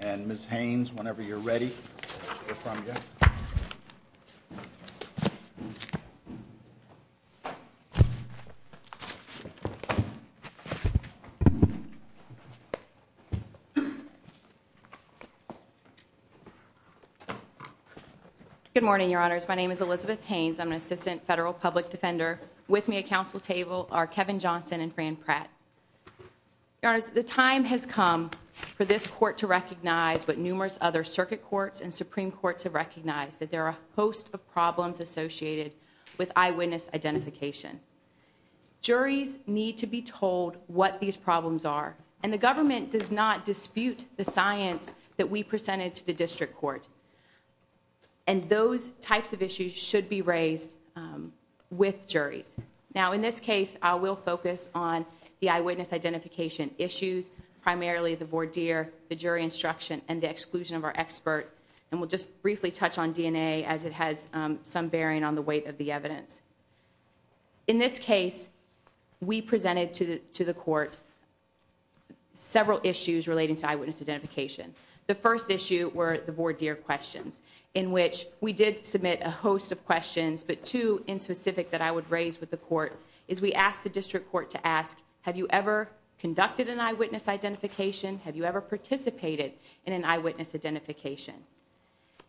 and Ms. Haynes, whenever you're ready to hear from you. Good morning, your honors. My name is Elizabeth Haynes. I'm an assistant federal public defender. With me at council table are Kevin Johnson and Fran Pratt. Your honors, the time has come for this court to recognize what numerous other circuit courts and Supreme Courts have recognized, that there are a host of problems associated with eyewitness identification. Juries need to be told what these problems are, and the government does not dispute the science that we presented to the district court. And those types of issues should be raised with juries. Now, in this case, I will focus on the eyewitness identification issues, primarily the voir dire, the jury instruction, and the exclusion of our expert. And we'll just briefly touch on DNA as it has some bearing on the weight of the evidence. In this case, we presented to the court several issues relating to eyewitness identification. The first issue were the voir dire questions, in which we did submit a host of questions. But two in specific that I would raise with the court is we asked the district court to ask, have you ever conducted an eyewitness identification? Have you ever participated in an eyewitness identification?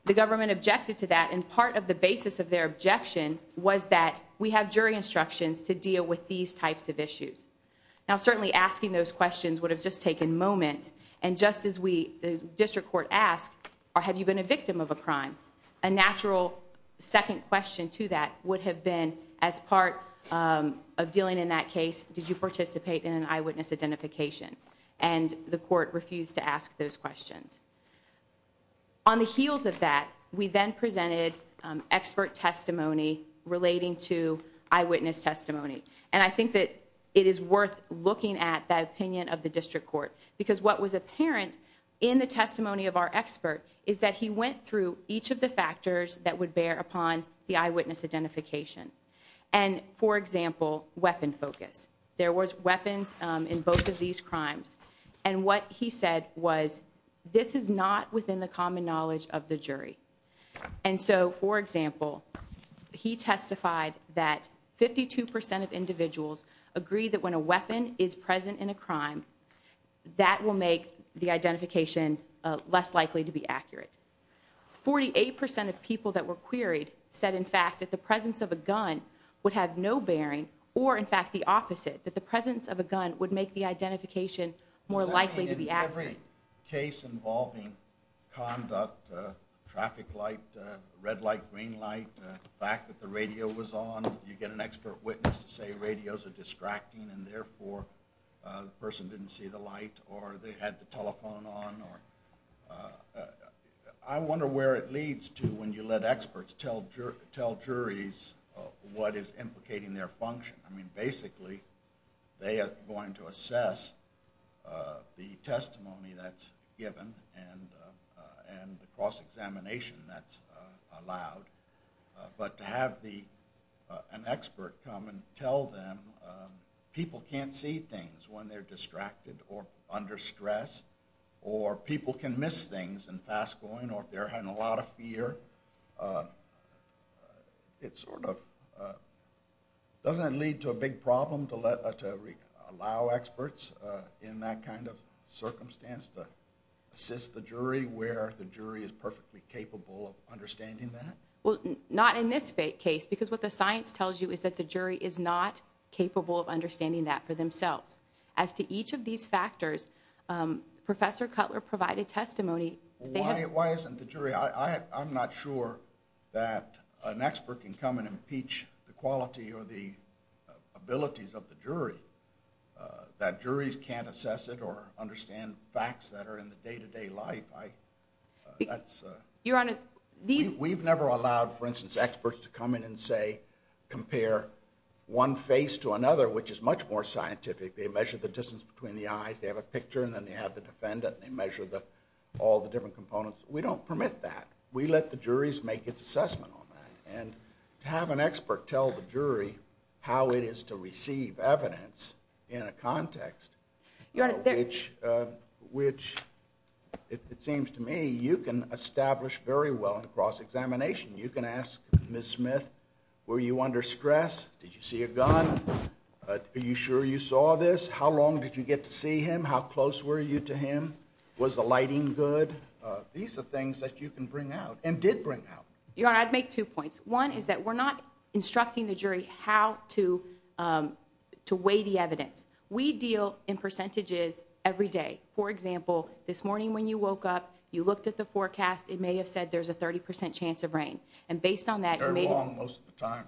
The government objected to that, and part of the basis of their objection was that we have jury instructions to deal with these types of issues. Now, certainly asking those questions would have just taken moments, and just as the district court asked, have you been a victim of a crime? A natural second question to that would have been, as part of dealing in that case, did you participate in an eyewitness identification? And the court refused to ask those questions. On the heels of that, we then presented expert testimony relating to eyewitness testimony. And I think that it is worth looking at that opinion of the district court, because what was apparent in the testimony of our expert is that he went through each of the factors that would bear upon the eyewitness identification. And, for example, weapon focus. There was weapons in both of these crimes, and what he said was, this is not within the common knowledge of the jury. And so, for example, he testified that 52% of individuals agree that when a weapon is present in a crime, that will make the identification less likely to be accurate. 48% of people that were queried said, in fact, that the presence of a gun would have no bearing, or, in fact, the opposite, that the presence of a gun would make the identification more likely to be accurate. In every case involving conduct, traffic light, red light, green light, the fact that the radio was on, you get an expert witness to say radios are distracting and, therefore, the person didn't see the light, or they had the telephone on. I wonder where it leads to when you let experts tell juries what is implicating their function. I mean, basically, they are going to assess the testimony that's given and the cross-examination that's allowed. But to have an expert come and tell them people can't see things when they're distracted or under stress, or people can miss things in fast going, or they're having a lot of fear, it sort of doesn't lead to a big problem to allow experts in that kind of circumstance to assist the jury where the jury is perfectly capable of understanding that? Well, not in this case, because what the science tells you is that the jury is not capable of understanding that for themselves. As to each of these factors, Professor Cutler provided testimony. Why isn't the jury? I'm not sure that an expert can come and impeach the quality or the abilities of the jury, that juries can't assess it or understand facts that are in the day-to-day life. We've never allowed, for instance, experts to come in and say, compare one face to another, which is much more scientific. They measure the distance between the eyes. They have a picture, and then they have the defendant, and they measure all the different components. We don't permit that. We let the juries make its assessment on that. Have an expert tell the jury how it is to receive evidence in a context, which it seems to me you can establish very well in cross-examination. You can ask Ms. Smith, were you under stress? Did you see a gun? Are you sure you saw this? How long did you get to see him? How close were you to him? Was the lighting good? These are things that you can bring out and did bring out. Your Honor, I'd make two points. One is that we're not instructing the jury how to weigh the evidence. We deal in percentages every day. For example, this morning when you woke up, you looked at the forecast. It may have said there's a 30 percent chance of rain. And based on that, you may— Very long most of the time.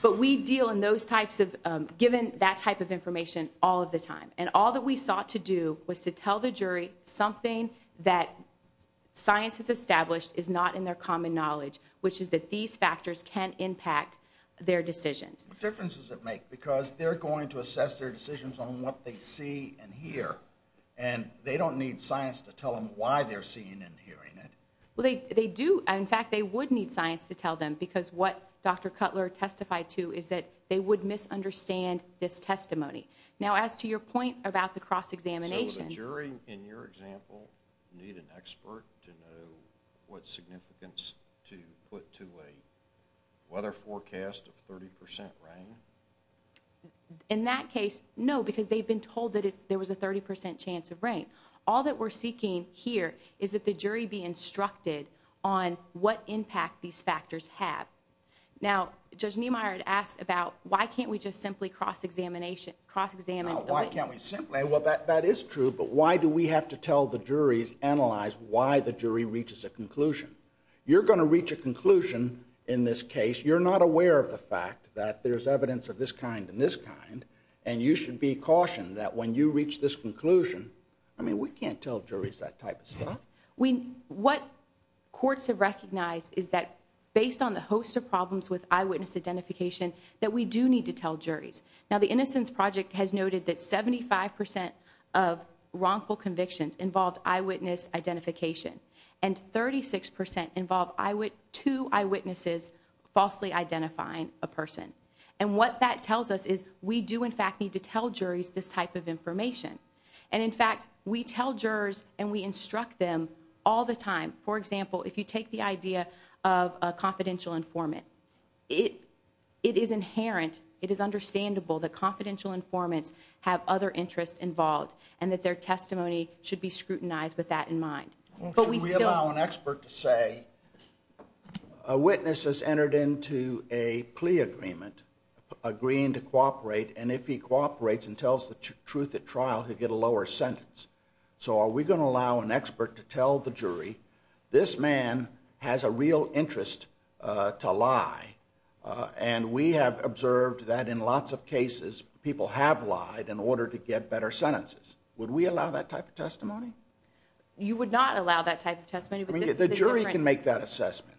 But we deal in those types of—given that type of information all of the time. And all that we sought to do was to tell the jury something that science has established is not in their common knowledge, which is that these factors can impact their decisions. What difference does it make? Because they're going to assess their decisions on what they see and hear, and they don't need science to tell them why they're seeing and hearing it. Well, they do. In fact, they would need science to tell them because what Dr. Cutler testified to is that they would misunderstand this testimony. Now, as to your point about the cross-examination— So would a jury, in your example, need an expert to know what significance to put to a weather forecast of 30 percent rain? In that case, no, because they've been told that there was a 30 percent chance of rain. All that we're seeking here is that the jury be instructed on what impact these factors have. Now, Judge Niemeyer had asked about why can't we just simply cross-examine— No, why can't we simply—well, that is true, but why do we have to tell the juries—analyze why the jury reaches a conclusion? You're going to reach a conclusion in this case. You're not aware of the fact that there's evidence of this kind and this kind, and you should be cautioned that when you reach this conclusion—I mean, we can't tell juries that type of stuff. What courts have recognized is that, based on the host of problems with eyewitness identification, that we do need to tell juries. Now, the Innocence Project has noted that 75 percent of wrongful convictions involved eyewitness identification, and 36 percent involved two eyewitnesses falsely identifying a person. And what that tells us is we do, in fact, need to tell juries this type of information. And, in fact, we tell jurors and we instruct them all the time. For example, if you take the idea of a confidential informant, it is inherent, it is understandable that confidential informants have other interests involved and that their testimony should be scrutinized with that in mind. But we still— Well, should we allow an expert to say, a witness has entered into a plea agreement agreeing to cooperate, and if he cooperates and tells the truth at trial, he'll get a lower sentence. So are we going to allow an expert to tell the jury, this man has a real interest to lie, and we have observed that in lots of cases people have lied in order to get better sentences. Would we allow that type of testimony? You would not allow that type of testimony, but this is a different— The jury can make that assessment.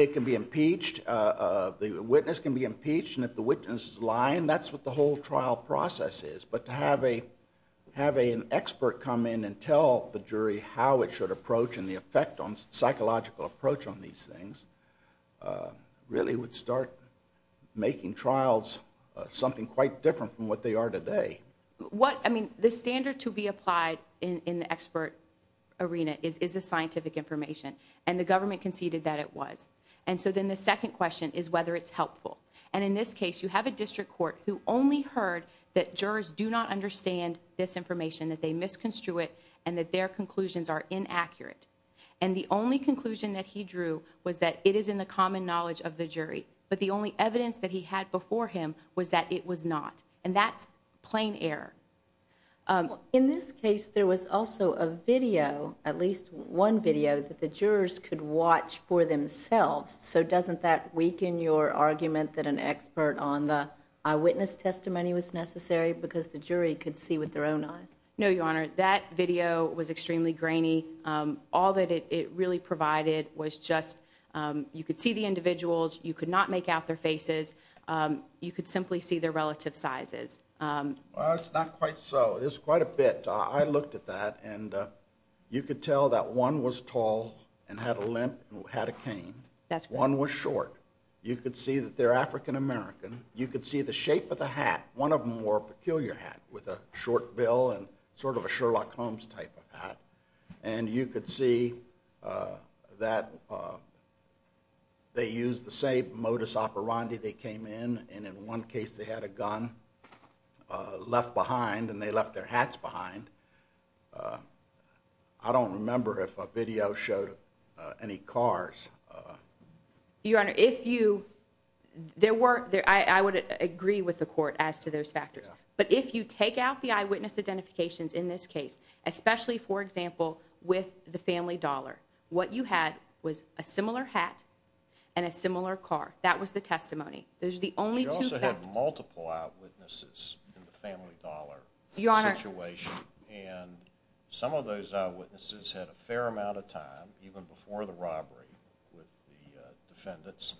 It can be impeached, the witness can be impeached, and if the witness is lying, that's what the whole trial process is. But to have an expert come in and tell the jury how it should approach and the effect on psychological approach on these things really would start making trials something quite different from what they are today. What—I mean, the standard to be applied in the expert arena is the scientific information, and the government conceded that it was. And so then the second question is whether it's helpful. And in this case, you have a district court who only heard that jurors do not understand this information, that they misconstrued it, and that their conclusions are inaccurate. And the only conclusion that he drew was that it is in the common knowledge of the jury, but the only evidence that he had before him was that it was not. And that's plain error. In this case, there was also a video, at least one video, that the jurors could watch for themselves. So doesn't that weaken your argument that an expert on the eyewitness testimony was necessary because the jury could see with their own eyes? No, Your Honor. That video was extremely grainy. All that it really provided was just—you could see the individuals. You could not make out their faces. You could simply see their relative sizes. Well, it's not quite so. There's quite a bit. I looked at that, and you could tell that one was tall and had a limp and had a cane. That's correct. One was short. You could see that they're African American. You could see the shape of the hat. One of them wore a peculiar hat with a short bill and sort of a Sherlock Holmes type of hat. And you could see that they used the same modus operandi. They came in, and in one case, they had a gun left behind, and they left their hats behind. I don't remember if a video showed any cars. Your Honor, if you—I would agree with the court as to those factors. But if you take out the eyewitness identifications in this case, especially, for example, with the family dollar, what you had was a similar hat and a similar car. That was the testimony. Those are the only two facts. You also had multiple eyewitnesses in the family dollar situation. And some of those eyewitnesses had a fair amount of time, even before the robbery, with the defendants.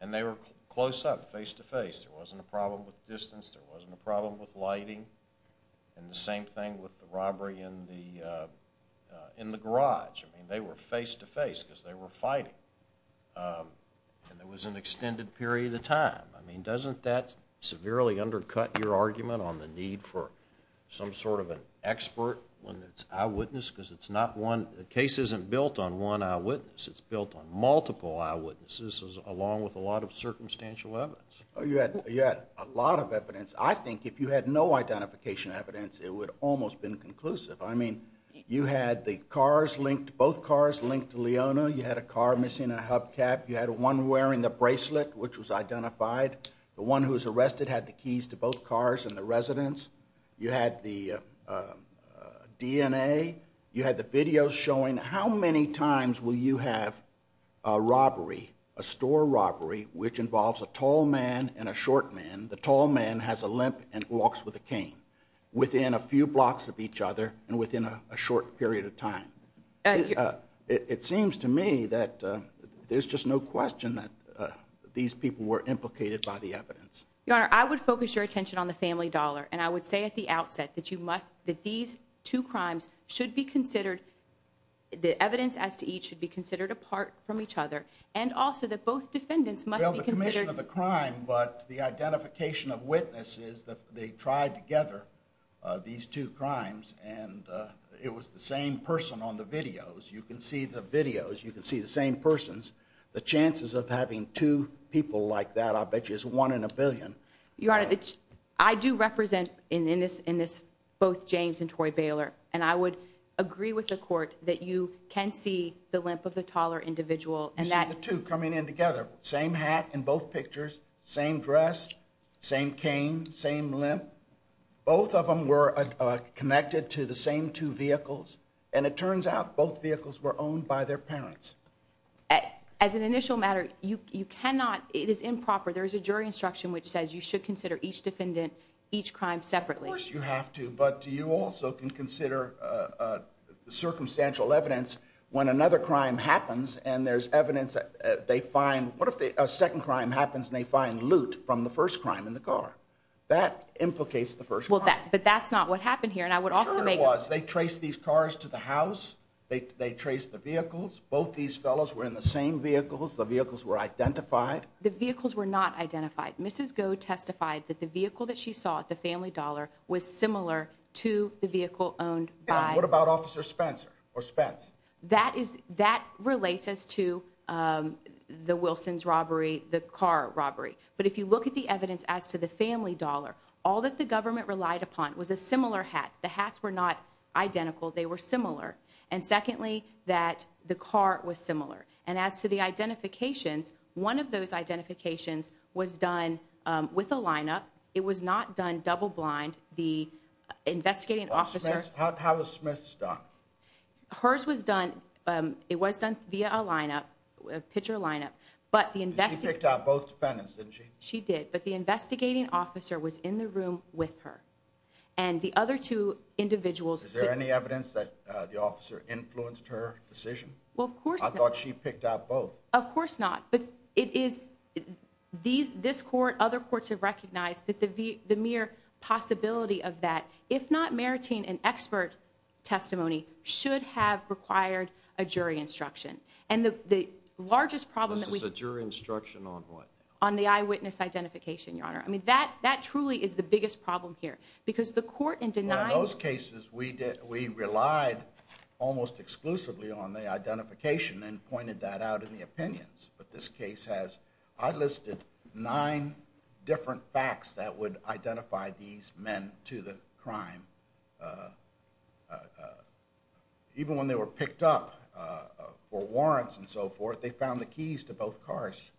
And they were close up, face to face. There wasn't a problem with distance. There wasn't a problem with lighting. And the same thing with the robbery in the garage. I mean, they were face to face because they were fighting. And there was an extended period of time. I mean, doesn't that severely undercut your argument on the need for some sort of an expert when it's eyewitness? Because it's not one—the case isn't built on one eyewitness. It's built on multiple eyewitnesses, along with a lot of circumstantial evidence. You had a lot of evidence. I think if you had no identification evidence, it would have almost been conclusive. I mean, you had the cars linked—both cars linked to Leona. You had a car missing a hubcap. You had one wearing the bracelet, which was identified. The one who was arrested had the keys to both cars and the residence. You had the DNA. You had the videos showing how many times will you have a robbery, a store robbery, which involves a tall man and a short man. The tall man has a limp and walks with a cane within a few blocks of each other and within a short period of time. It seems to me that there's just no question that these people were implicated by the evidence. Your Honor, I would focus your attention on the family dollar. And I would say at the outset that these two crimes should be considered—the evidence as to each should be considered apart from each other. And also that both defendants must be considered— Well, the commission of the crime, but the identification of witnesses, they tried together these two crimes. And it was the same person on the videos. You can see the videos. You can see the same persons. The chances of having two people like that, I'll bet you, is one in a billion. Your Honor, I do represent in this both James and Troy Baylor. And I would agree with the court that you can see the limp of the taller individual. You see the two coming in together. Same hat in both pictures. Same dress. Same cane. Same limp. Both of them were connected to the same two vehicles. And it turns out both vehicles were owned by their parents. As an initial matter, you cannot—it is improper. There is a jury instruction which says you should consider each defendant, each crime separately. Of course you have to. But you also can consider circumstantial evidence when another crime happens and there's evidence that they find— what if a second crime happens and they find loot from the first crime in the car? That implicates the first crime. But that's not what happened here, and I would also make— Sure it was. They traced these cars to the house. They traced the vehicles. Both these fellows were in the same vehicles. The vehicles were identified. The vehicles were not identified. Mrs. Goh testified that the vehicle that she saw at the Family Dollar was similar to the vehicle owned by— What about Officer Spencer or Spence? That relates us to the Wilsons robbery, the car robbery. But if you look at the evidence as to the Family Dollar, all that the government relied upon was a similar hat. The hats were not identical. They were similar. And secondly, that the car was similar. And as to the identifications, one of those identifications was done with a lineup. It was not done double-blind. The investigating officer— How was Smith's done? Hers was done—it was done via a lineup, a pitcher lineup. She picked out both defendants, didn't she? She did, but the investigating officer was in the room with her. And the other two individuals— Is there any evidence that the officer influenced her decision? Well, of course not. I thought she picked out both. Of course not. But it is—this court, other courts have recognized that the mere possibility of that, if not meriting an expert testimony, should have required a jury instruction. And the largest problem— This is a jury instruction on what? On the eyewitness identification, Your Honor. I mean, that truly is the biggest problem here. Because the court in denying— In most cases, we relied almost exclusively on the identification and pointed that out in the opinions. But this case has—I listed nine different facts that would identify these men to the crime. Even when they were picked up for warrants and so forth, they found the keys to both cars.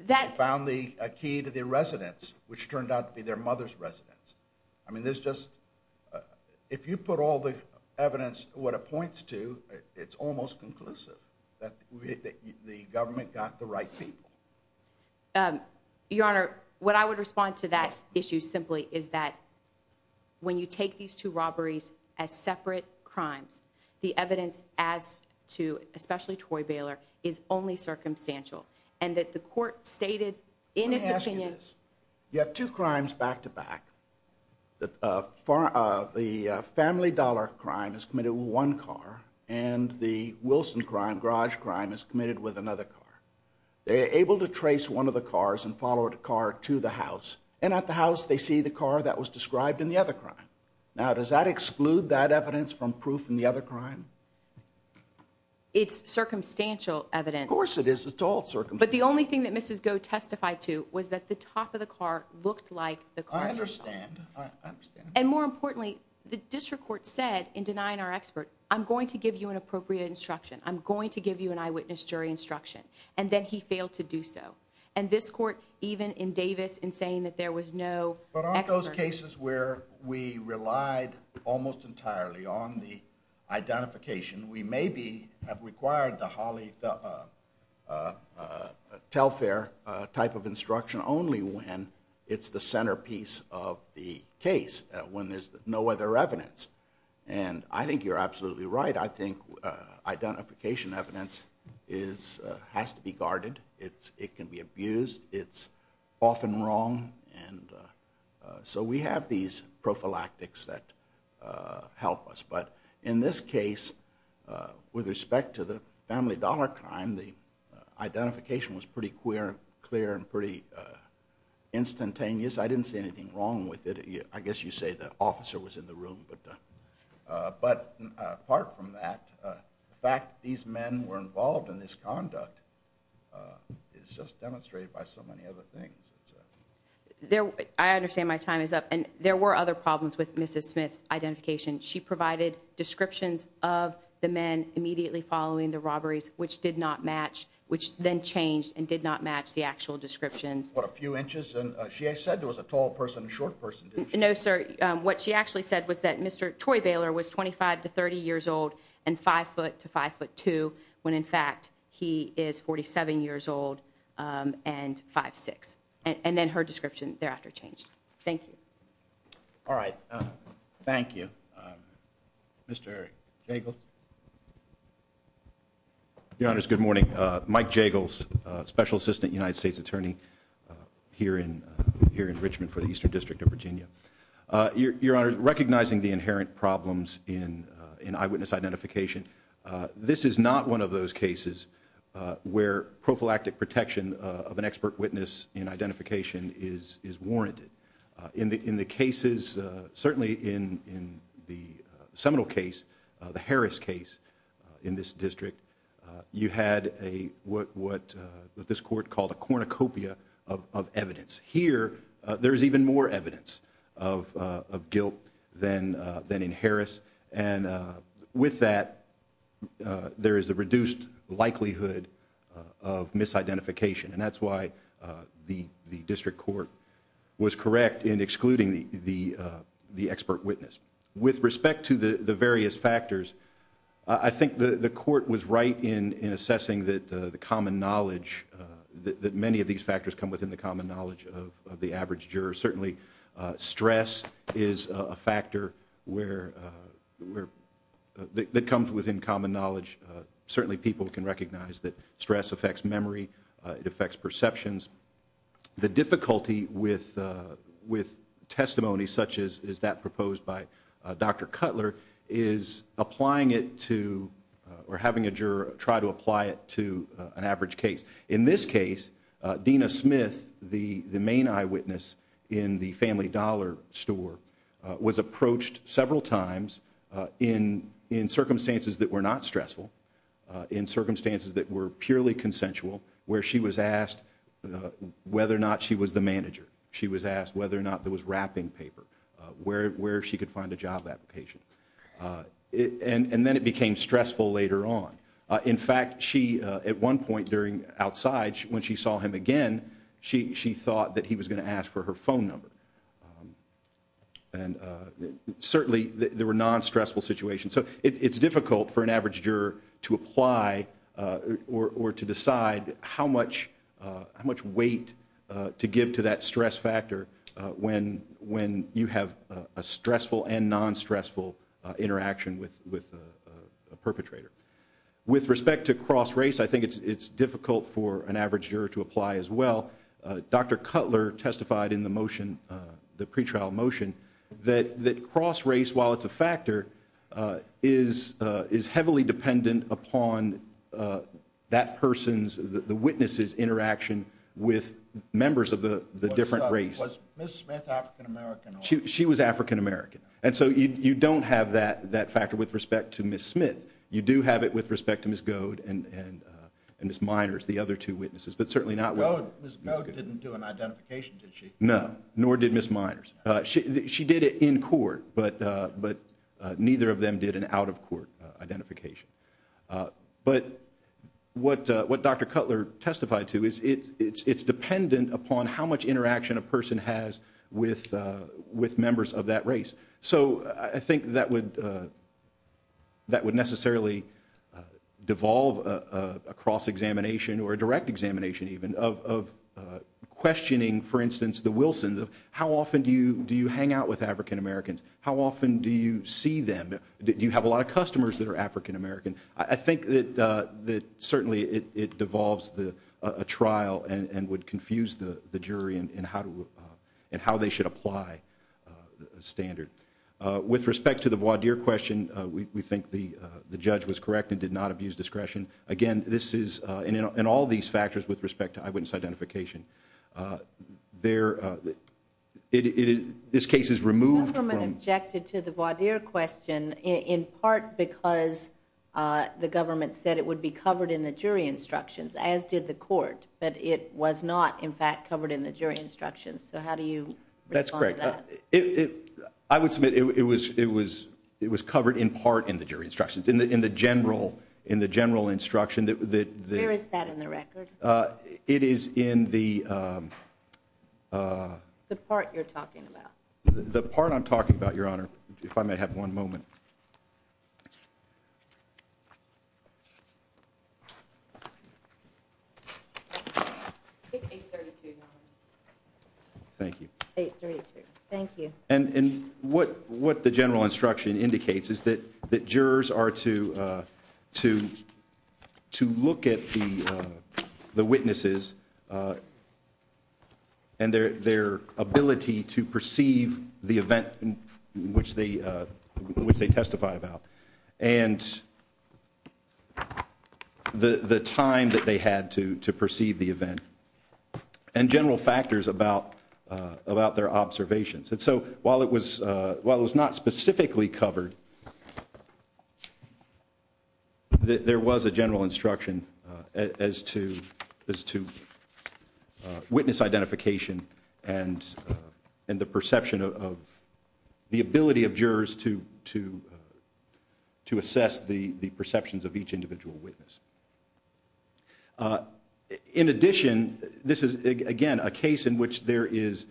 They found a key to their residence, which turned out to be their mother's residence. I mean, there's just—if you put all the evidence, what it points to, it's almost conclusive that the government got the right people. Your Honor, what I would respond to that issue simply is that when you take these two robberies as separate crimes, the evidence as to, especially Troy Baylor, is only circumstantial. And that the court stated in its opinion— The family dollar crime is committed with one car, and the Wilson crime, garage crime, is committed with another car. They are able to trace one of the cars and follow the car to the house. And at the house, they see the car that was described in the other crime. Now, does that exclude that evidence from proof in the other crime? It's circumstantial evidence. Of course it is. It's all circumstantial. But the only thing that Mrs. Goh testified to was that the top of the car looked like the car— I understand. I understand. And more importantly, the district court said in denying our expert, I'm going to give you an appropriate instruction. I'm going to give you an eyewitness jury instruction. And then he failed to do so. And this court, even in Davis, in saying that there was no expert— But on those cases where we relied almost entirely on the identification, we maybe have required the Holly Telfair type of instruction only when it's the centerpiece of the case, when there's no other evidence. And I think you're absolutely right. I think identification evidence has to be guarded. It can be abused. It's often wrong. And so we have these prophylactics that help us. But in this case, with respect to the family dollar crime, the identification was pretty clear and pretty instantaneous. I didn't see anything wrong with it. I guess you say the officer was in the room. But apart from that, the fact that these men were involved in this conduct is just demonstrated by so many other things. I understand my time is up. And there were other problems with Mrs. Smith's identification. She provided descriptions of the men immediately following the robberies, which then changed and did not match the actual descriptions. What, a few inches? She said there was a tall person and a short person, didn't she? No, sir. What she actually said was that Mr. Troy Baylor was 25 to 30 years old and 5 foot to 5 foot 2 when, in fact, he is 47 years old and 5'6". And then her description thereafter changed. Thank you. All right. Thank you. Mr. Jagels. Your Honors, good morning. Mike Jagels, Special Assistant United States Attorney here in Richmond for the Eastern District of Virginia. Your Honors, recognizing the inherent problems in eyewitness identification, this is not one of those cases where prophylactic protection of an expert witness in identification is warranted. In the cases, certainly in the Seminole case, the Harris case in this district, you had what this court called a cornucopia of evidence. Here, there is even more evidence of guilt than in Harris. And with that, there is a reduced likelihood of misidentification. And that's why the district court was correct in excluding the expert witness. With respect to the various factors, I think the court was right in assessing that the common knowledge, that many of these factors come within the common knowledge of the average juror. Certainly stress is a factor that comes within common knowledge. Certainly people can recognize that stress affects memory. It affects perceptions. The difficulty with testimony such as that proposed by Dr. Cutler is applying it to or having a juror try to apply it to an average case. In this case, Dena Smith, the main eyewitness in the Family Dollar store, was approached several times in circumstances that were not stressful, in circumstances that were purely consensual, where she was asked whether or not she was the manager. She was asked whether or not there was wrapping paper, where she could find a job application. And then it became stressful later on. In fact, at one point outside, when she saw him again, she thought that he was going to ask for her phone number. And certainly there were non-stressful situations. So it's difficult for an average juror to apply or to decide how much weight to give to that stress factor when you have a stressful and non-stressful interaction with a perpetrator. With respect to cross-race, I think it's difficult for an average juror to apply as well. Dr. Cutler testified in the motion, the pretrial motion, that cross-race, while it's a factor, is heavily dependent upon that person's, the witness's, interaction with members of the different race. Was Ms. Smith African-American? She was African-American. And so you don't have that factor with respect to Ms. Smith. You do have it with respect to Ms. Goad and Ms. Miners, the other two witnesses, but certainly not with respect to Ms. Goad. Ms. Goad didn't do an identification, did she? No, nor did Ms. Miners. She did it in court, but neither of them did an out-of-court identification. But what Dr. Cutler testified to is it's dependent upon how much interaction a person has with members of that race. So I think that would necessarily devolve a cross-examination or a direct examination even of questioning, for instance, the Wilsons of how often do you hang out with African-Americans? How often do you see them? Do you have a lot of customers that are African-American? I think that certainly it devolves a trial and would confuse the jury in how they should apply the standard. With respect to the voir dire question, we think the judge was correct and did not abuse discretion. Again, this is in all these factors with respect to eyewitness identification. This case is removed from- The government objected to the voir dire question in part because the government said it would be covered in the jury instructions, as did the court, but it was not, in fact, covered in the jury instructions. So how do you respond to that? That's correct. I would submit it was covered in part in the jury instructions, in the general instruction that- Where is that in the record? It is in the- The part you're talking about. The part I'm talking about, Your Honor, if I may have one moment. $832. Thank you. $832, thank you. And what the general instruction indicates is that jurors are to look at the witnesses and their ability to perceive the event which they testified about and the time that they had to perceive the event and general factors about their observations. And so while it was not specifically covered, there was a general instruction as to witness identification and the perception of the ability of jurors to assess the perceptions of each individual witness. In addition, this is, again, a case in which there is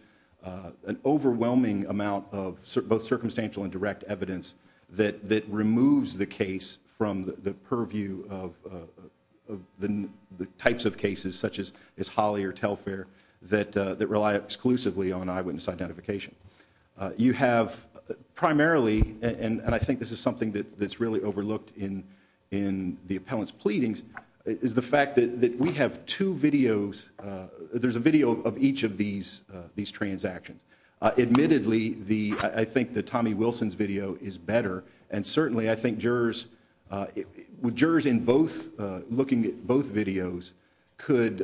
an overwhelming amount of both circumstantial and direct evidence that removes the case from the purview of the types of cases, such as Holley or Telfair, that rely exclusively on eyewitness identification. You have primarily, and I think this is something that's really overlooked in the appellant's pleadings, is the fact that we have two videos. There's a video of each of these transactions. Admittedly, I think that Tommy Wilson's video is better, and certainly I think jurors in looking at both videos could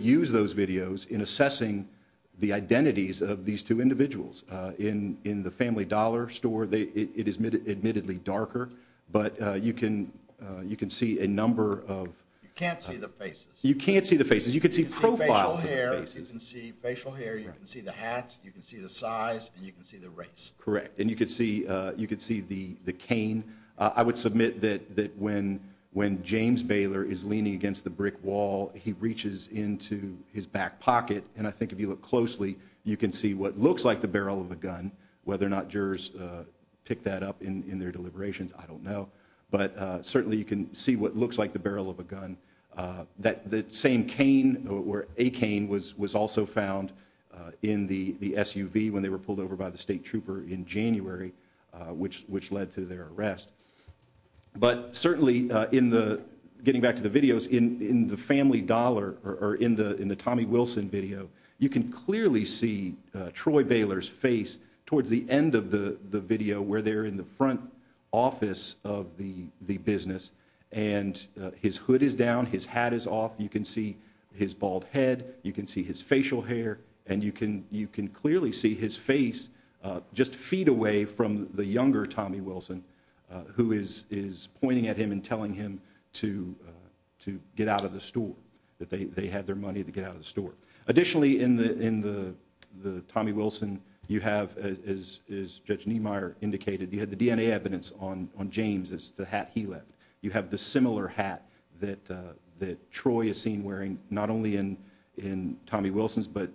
use those videos in assessing the identities of these two individuals. In the Family Dollar store, it is admittedly darker, but you can see a number of... You can't see the faces. You can't see the faces. You can see profiles of the faces. You can see facial hair, you can see the hats, you can see the size, and you can see the race. Correct, and you can see the cane. I would submit that when James Baylor is leaning against the brick wall, he reaches into his back pocket, and I think if you look closely, you can see what looks like the barrel of a gun. Whether or not jurors pick that up in their deliberations, I don't know, but certainly you can see what looks like the barrel of a gun. The same cane, or a cane, was also found in the SUV when they were pulled over by the state trooper in January, which led to their arrest. But certainly, getting back to the videos, in the Family Dollar, or in the Tommy Wilson video, you can clearly see Troy Baylor's face towards the end of the video where they're in the front office of the business, and his hood is down, his hat is off, you can see his bald head, you can see his facial hair, and you can clearly see his face just feet away from the younger Tommy Wilson, who is pointing at him and telling him to get out of the store, that they had their money to get out of the store. Additionally, in the Tommy Wilson, you have, as Judge Niemeyer indicated, you had the DNA evidence on James, it's the hat he left. You have the similar hat that Troy is seen wearing, not only in Tommy Wilson's, but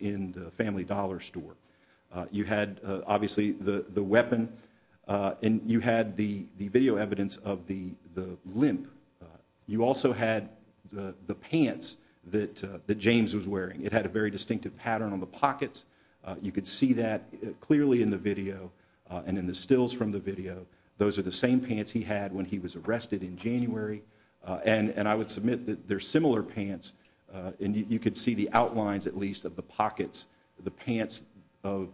in the Family Dollar store. You had, obviously, the weapon, and you had the video evidence of the limp. You also had the pants that James was wearing. It had a very distinctive pattern on the pockets. You could see that clearly in the video and in the stills from the video. Those are the same pants he had when he was arrested in January, and I would submit that they're similar pants, and you could see the outlines, at least, of the pockets, the pants of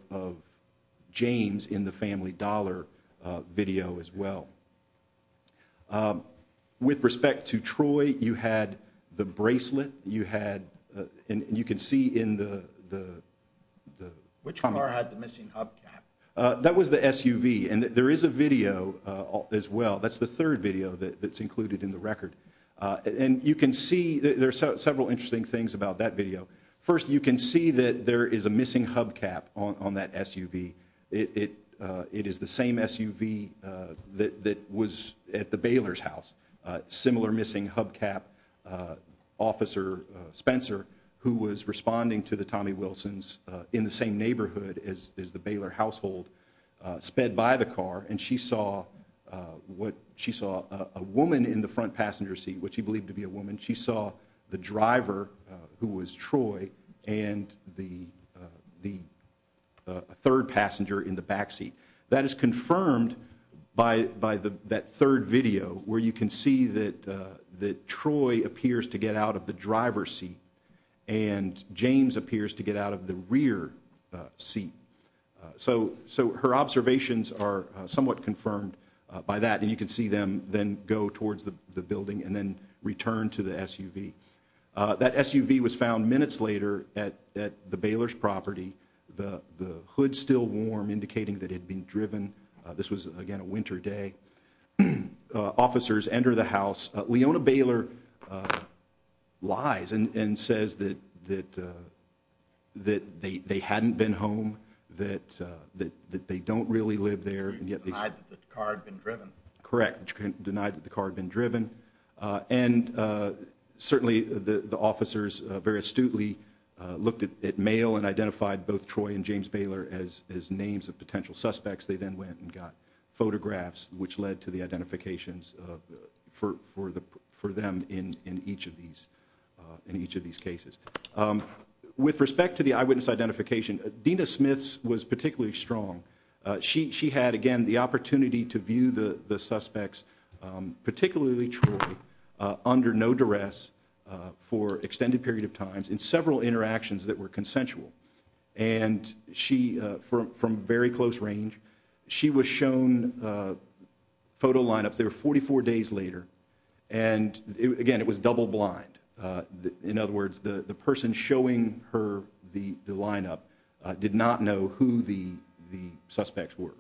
James in the Family Dollar video as well. With respect to Troy, you had the bracelet. You had, and you can see in the… Which car had the missing hubcap? That was the SUV, and there is a video as well. That's the third video that's included in the record, and you can see, there are several interesting things about that video. First, you can see that there is a missing hubcap on that SUV. It is the same SUV that was at the Baylor's house, similar missing hubcap, Officer Spencer, who was responding to the Tommy Wilsons in the same neighborhood as the Baylor household, sped by the car, and she saw a woman in the front passenger seat, which he believed to be a woman. She saw the driver, who was Troy, and the third passenger in the back seat. That is confirmed by that third video, where you can see that Troy appears to get out of the driver's seat, and James appears to get out of the rear seat. So her observations are somewhat confirmed by that, and you can see them then go towards the building and then return to the SUV. That SUV was found minutes later at the Baylor's property. The hood's still warm, indicating that it had been driven. This was, again, a winter day. Officers enter the house. Leona Baylor lies and says that they hadn't been home, that they don't really live there. Correct. Denied that the car had been driven. And certainly the officers very astutely looked at mail and identified both Troy and James Baylor as names of potential suspects. They then went and got photographs, which led to the identifications for them in each of these cases. With respect to the eyewitness identification, Dina Smith was particularly strong. She had, again, the opportunity to view the suspects, particularly Troy, under no duress for an extended period of time in several interactions that were consensual from very close range. She was shown photo lineups. They were 44 days later, and, again, it was double blind. In other words, the person showing her the lineup did not know who the suspects were,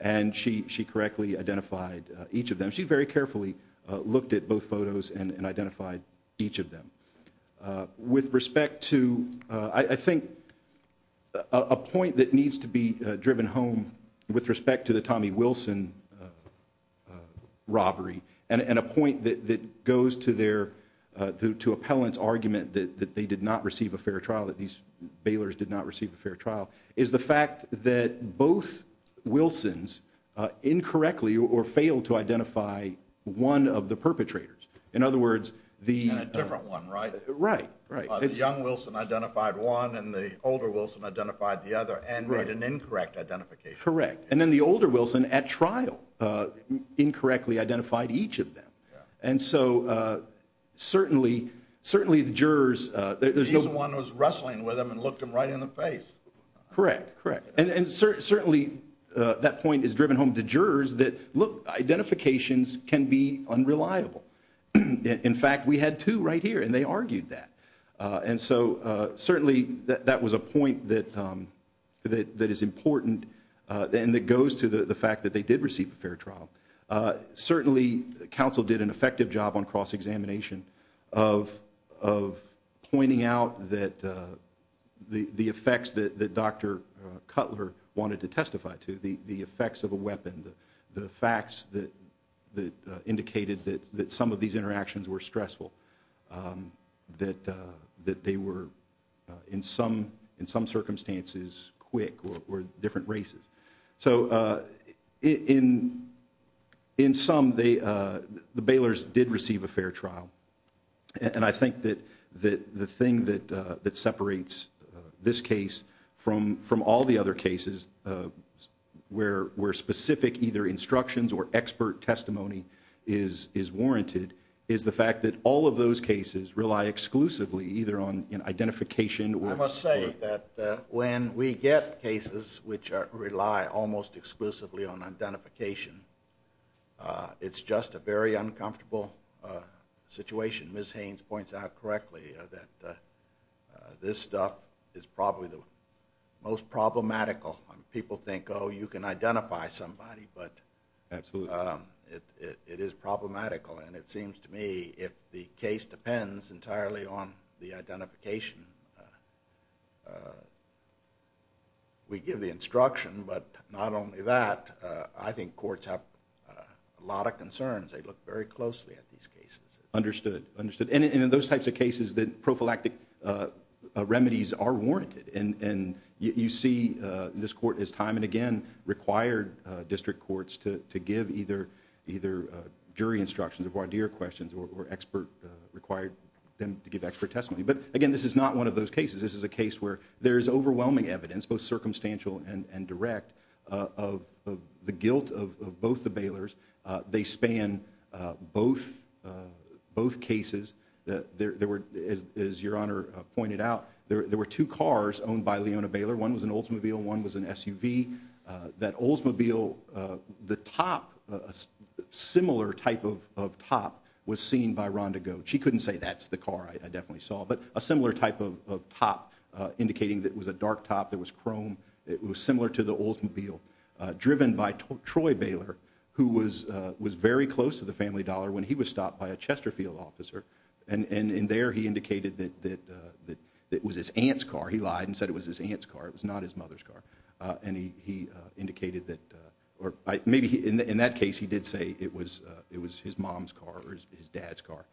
and she correctly identified each of them. She very carefully looked at both photos and identified each of them. With respect to, I think, a point that needs to be driven home with respect to the Tommy Wilson robbery and a point that goes to appellant's argument that they did not receive a fair trial, that these Baylors did not receive a fair trial, is the fact that both Wilsons incorrectly or failed to identify one of the perpetrators. In other words, the young Wilson identified one and the older Wilson identified the other and made an incorrect identification. Correct. And then the older Wilson, at trial, incorrectly identified each of them. And so, certainly, the jurors, there's no... He's the one who was wrestling with them and looked them right in the face. Correct, correct. And, certainly, that point is driven home to jurors that, look, identifications can be unreliable. In fact, we had two right here, and they argued that. And so, certainly, that was a point that is important and that goes to the fact that they did receive a fair trial. Certainly, counsel did an effective job on cross-examination of pointing out that the effects that Dr. Cutler wanted to testify to, the effects of a weapon, the facts that indicated that some of these interactions were stressful, that they were, in some circumstances, quick or different races. So, in sum, the Baylors did receive a fair trial. And I think that the thing that separates this case from all the other cases where specific either instructions or expert testimony is warranted is the fact that all of those cases rely exclusively either on identification or... I must say that when we get cases which rely almost exclusively on identification, it's just a very uncomfortable situation. Ms. Haynes points out correctly that this stuff is probably the most problematical. People think, oh, you can identify somebody, but it is problematical. And it seems to me if the case depends entirely on the identification, we give the instruction. But not only that, I think courts have a lot of concerns. They look very closely at these cases. Understood. And in those types of cases, the prophylactic remedies are warranted. And you see this court has time and again required district courts to give either jury instructions or voir dire questions or required them to give expert testimony. But, again, this is not one of those cases. This is a case where there is overwhelming evidence, both circumstantial and direct, of the guilt of both the Baylors. They span both cases. As Your Honor pointed out, there were two cars owned by Leona Baylor. One was an Oldsmobile. One was an SUV. That Oldsmobile, the top, a similar type of top was seen by Rhonda Goats. She couldn't say, that's the car I definitely saw. But a similar type of top indicating that it was a dark top that was chrome. It was similar to the Oldsmobile. Driven by Troy Baylor, who was very close to the family dollar when he was stopped by a Chesterfield officer. And there he indicated that it was his aunt's car. He lied and said it was his aunt's car. It was not his mother's car. And he indicated that, or maybe in that case he did say it was his mom's car or his dad's car.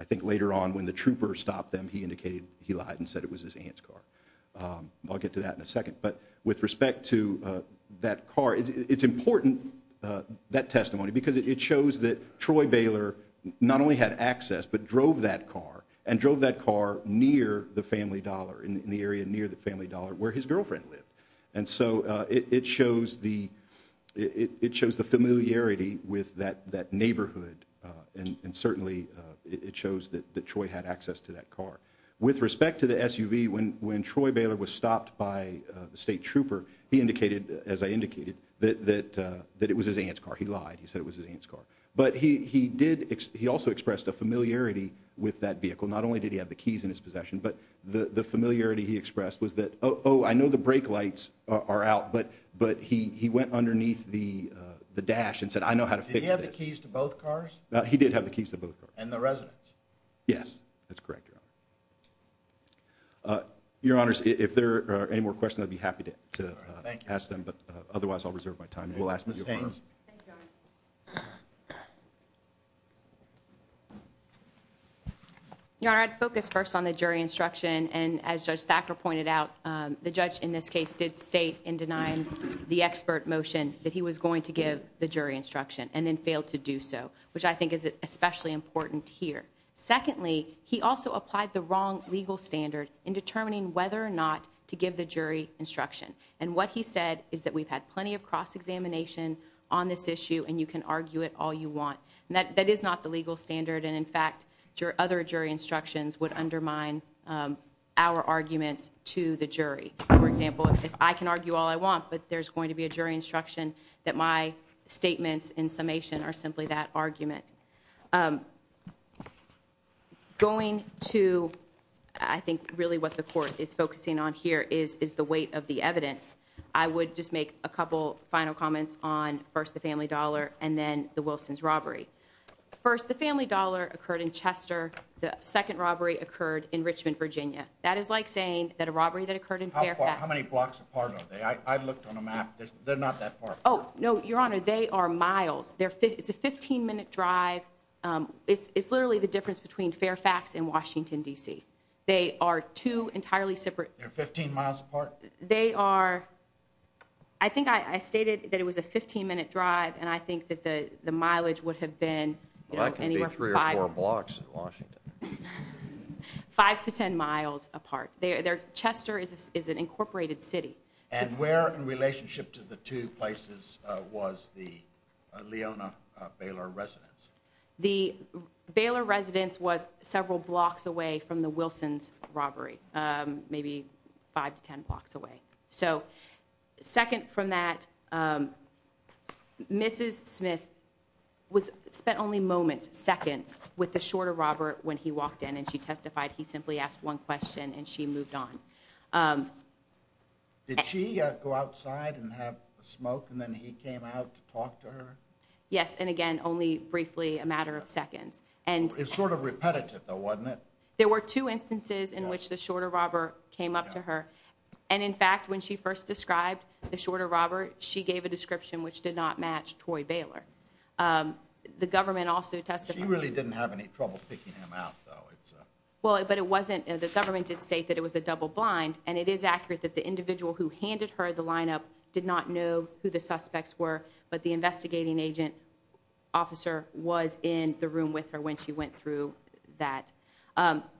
I think later on when the trooper stopped them, he indicated he lied and said it was his aunt's car. I'll get to that in a second. But with respect to that car, it's important, that testimony, because it shows that Troy Baylor not only had access but drove that car. And drove that car near the family dollar, in the area near the family dollar where his girlfriend lived. And so it shows the familiarity with that neighborhood. And certainly it shows that Troy had access to that car. With respect to the SUV, when Troy Baylor was stopped by the state trooper, he indicated, as I indicated, that it was his aunt's car. He lied. He said it was his aunt's car. But he also expressed a familiarity with that vehicle. Not only did he have the keys in his possession, but the familiarity he expressed was that, oh, I know the brake lights are out, but he went underneath the dash and said, I know how to fix this. Did he have the keys to both cars? He did have the keys to both cars. And the residence? Yes. That's correct, Your Honor. Your Honors, if there are any more questions, I'd be happy to ask them. But otherwise I'll reserve my time. We'll ask Ms. Haines. Thank you, Your Honor. Your Honor, I'd focus first on the jury instruction. And as Judge Thacker pointed out, the judge in this case did state in denying the expert motion that he was going to give the jury instruction and then failed to do so, which I think is especially important here. Secondly, he also applied the wrong legal standard in determining whether or not to give the jury instruction. And what he said is that we've had plenty of cross-examination on this issue and you can argue it all you want. That is not the legal standard. And, in fact, other jury instructions would undermine our arguments to the jury. For example, if I can argue all I want but there's going to be a jury instruction, that my statements in summation are simply that argument. Going to, I think, really what the court is focusing on here is the weight of the evidence. I would just make a couple final comments on, first, the family dollar and then the Wilsons robbery. First, the family dollar occurred in Chester. The second robbery occurred in Richmond, Virginia. That is like saying that a robbery that occurred in Fairfax. How many blocks apart are they? I looked on a map. They're not that far apart. Oh, no, Your Honor, they are miles. It's a 15-minute drive. It's literally the difference between Fairfax and Washington, D.C. They are two entirely separate. They're 15 miles apart? They are. I think I stated that it was a 15-minute drive and I think that the mileage would have been anywhere from five. Well, that can be three or four blocks in Washington. Five to ten miles apart. Chester is an incorporated city. And where in relationship to the two places was the Leona Baylor residence? The Baylor residence was several blocks away from the Wilsons robbery, maybe five to ten blocks away. So second from that, Mrs. Smith spent only moments, seconds, with the shorter robber when he walked in and she testified. He simply asked one question and she moved on. Did she go outside and have a smoke and then he came out to talk to her? Yes, and, again, only briefly, a matter of seconds. It was sort of repetitive, though, wasn't it? There were two instances in which the shorter robber came up to her. And, in fact, when she first described the shorter robber, she gave a description which did not match Troy Baylor. The government also testified. She really didn't have any trouble picking him out, though. Well, but it wasn't, the government did state that it was a double blind, and it is accurate that the individual who handed her the lineup did not know who the suspects were, but the investigating agent officer was in the room with her when she went through that.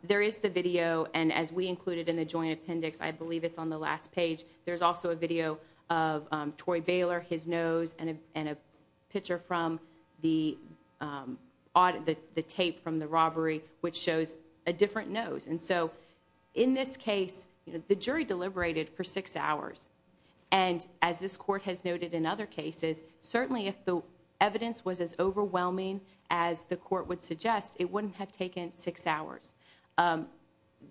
There is the video, and as we included in the joint appendix, I believe it's on the last page, there's also a video of Troy Baylor, his nose, and a picture from the tape from the robbery which shows a different nose. And so, in this case, the jury deliberated for six hours. And, as this court has noted in other cases, certainly if the evidence was as overwhelming as the court would suggest, it wouldn't have taken six hours.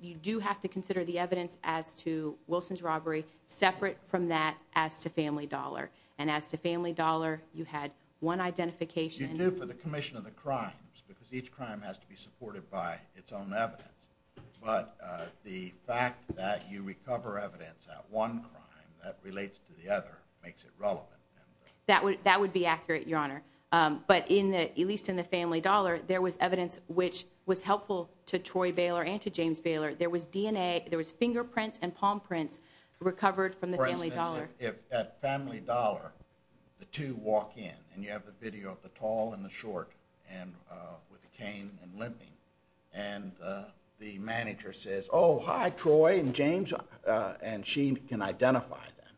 You do have to consider the evidence as to Wilson's robbery separate from that as to Family Dollar. And as to Family Dollar, you had one identification. You do for the commission of the crimes, because each crime has to be supported by its own evidence. But the fact that you recover evidence at one crime that relates to the other makes it relevant. That would be accurate, Your Honor. But at least in the Family Dollar, there was evidence which was helpful to Troy Baylor and to James Baylor. There was DNA, there was fingerprints and palm prints recovered from the Family Dollar. At Family Dollar, the two walk in, and you have the video of the tall and the short with the cane and limping. And the manager says, oh, hi, Troy and James. And she can identify them.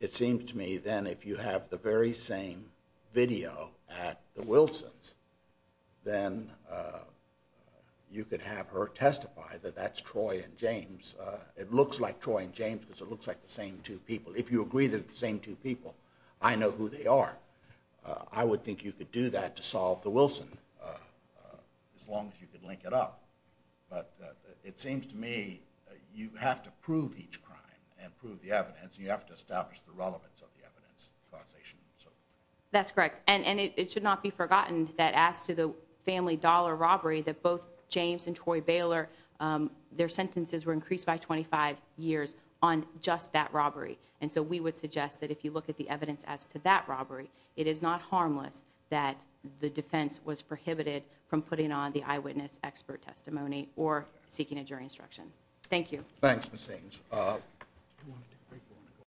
It seems to me, then, if you have the very same video at the Wilsons, then you could have her testify that that's Troy and James. It looks like Troy and James because it looks like the same two people. If you agree that it's the same two people, I know who they are. I would think you could do that to solve the Wilson as long as you could link it up. But it seems to me you have to prove each crime and prove the evidence, and you have to establish the relevance of the evidence causation. That's correct. And it should not be forgotten that as to the Family Dollar robbery, that both James and Troy Baylor, their sentences were increased by 25 years on just that robbery. And so we would suggest that if you look at the evidence as to that robbery, it is not harmless that the defense was prohibited from putting on the eyewitness expert testimony or seeking a jury instruction. Thank you. Thanks, Ms. Saenz.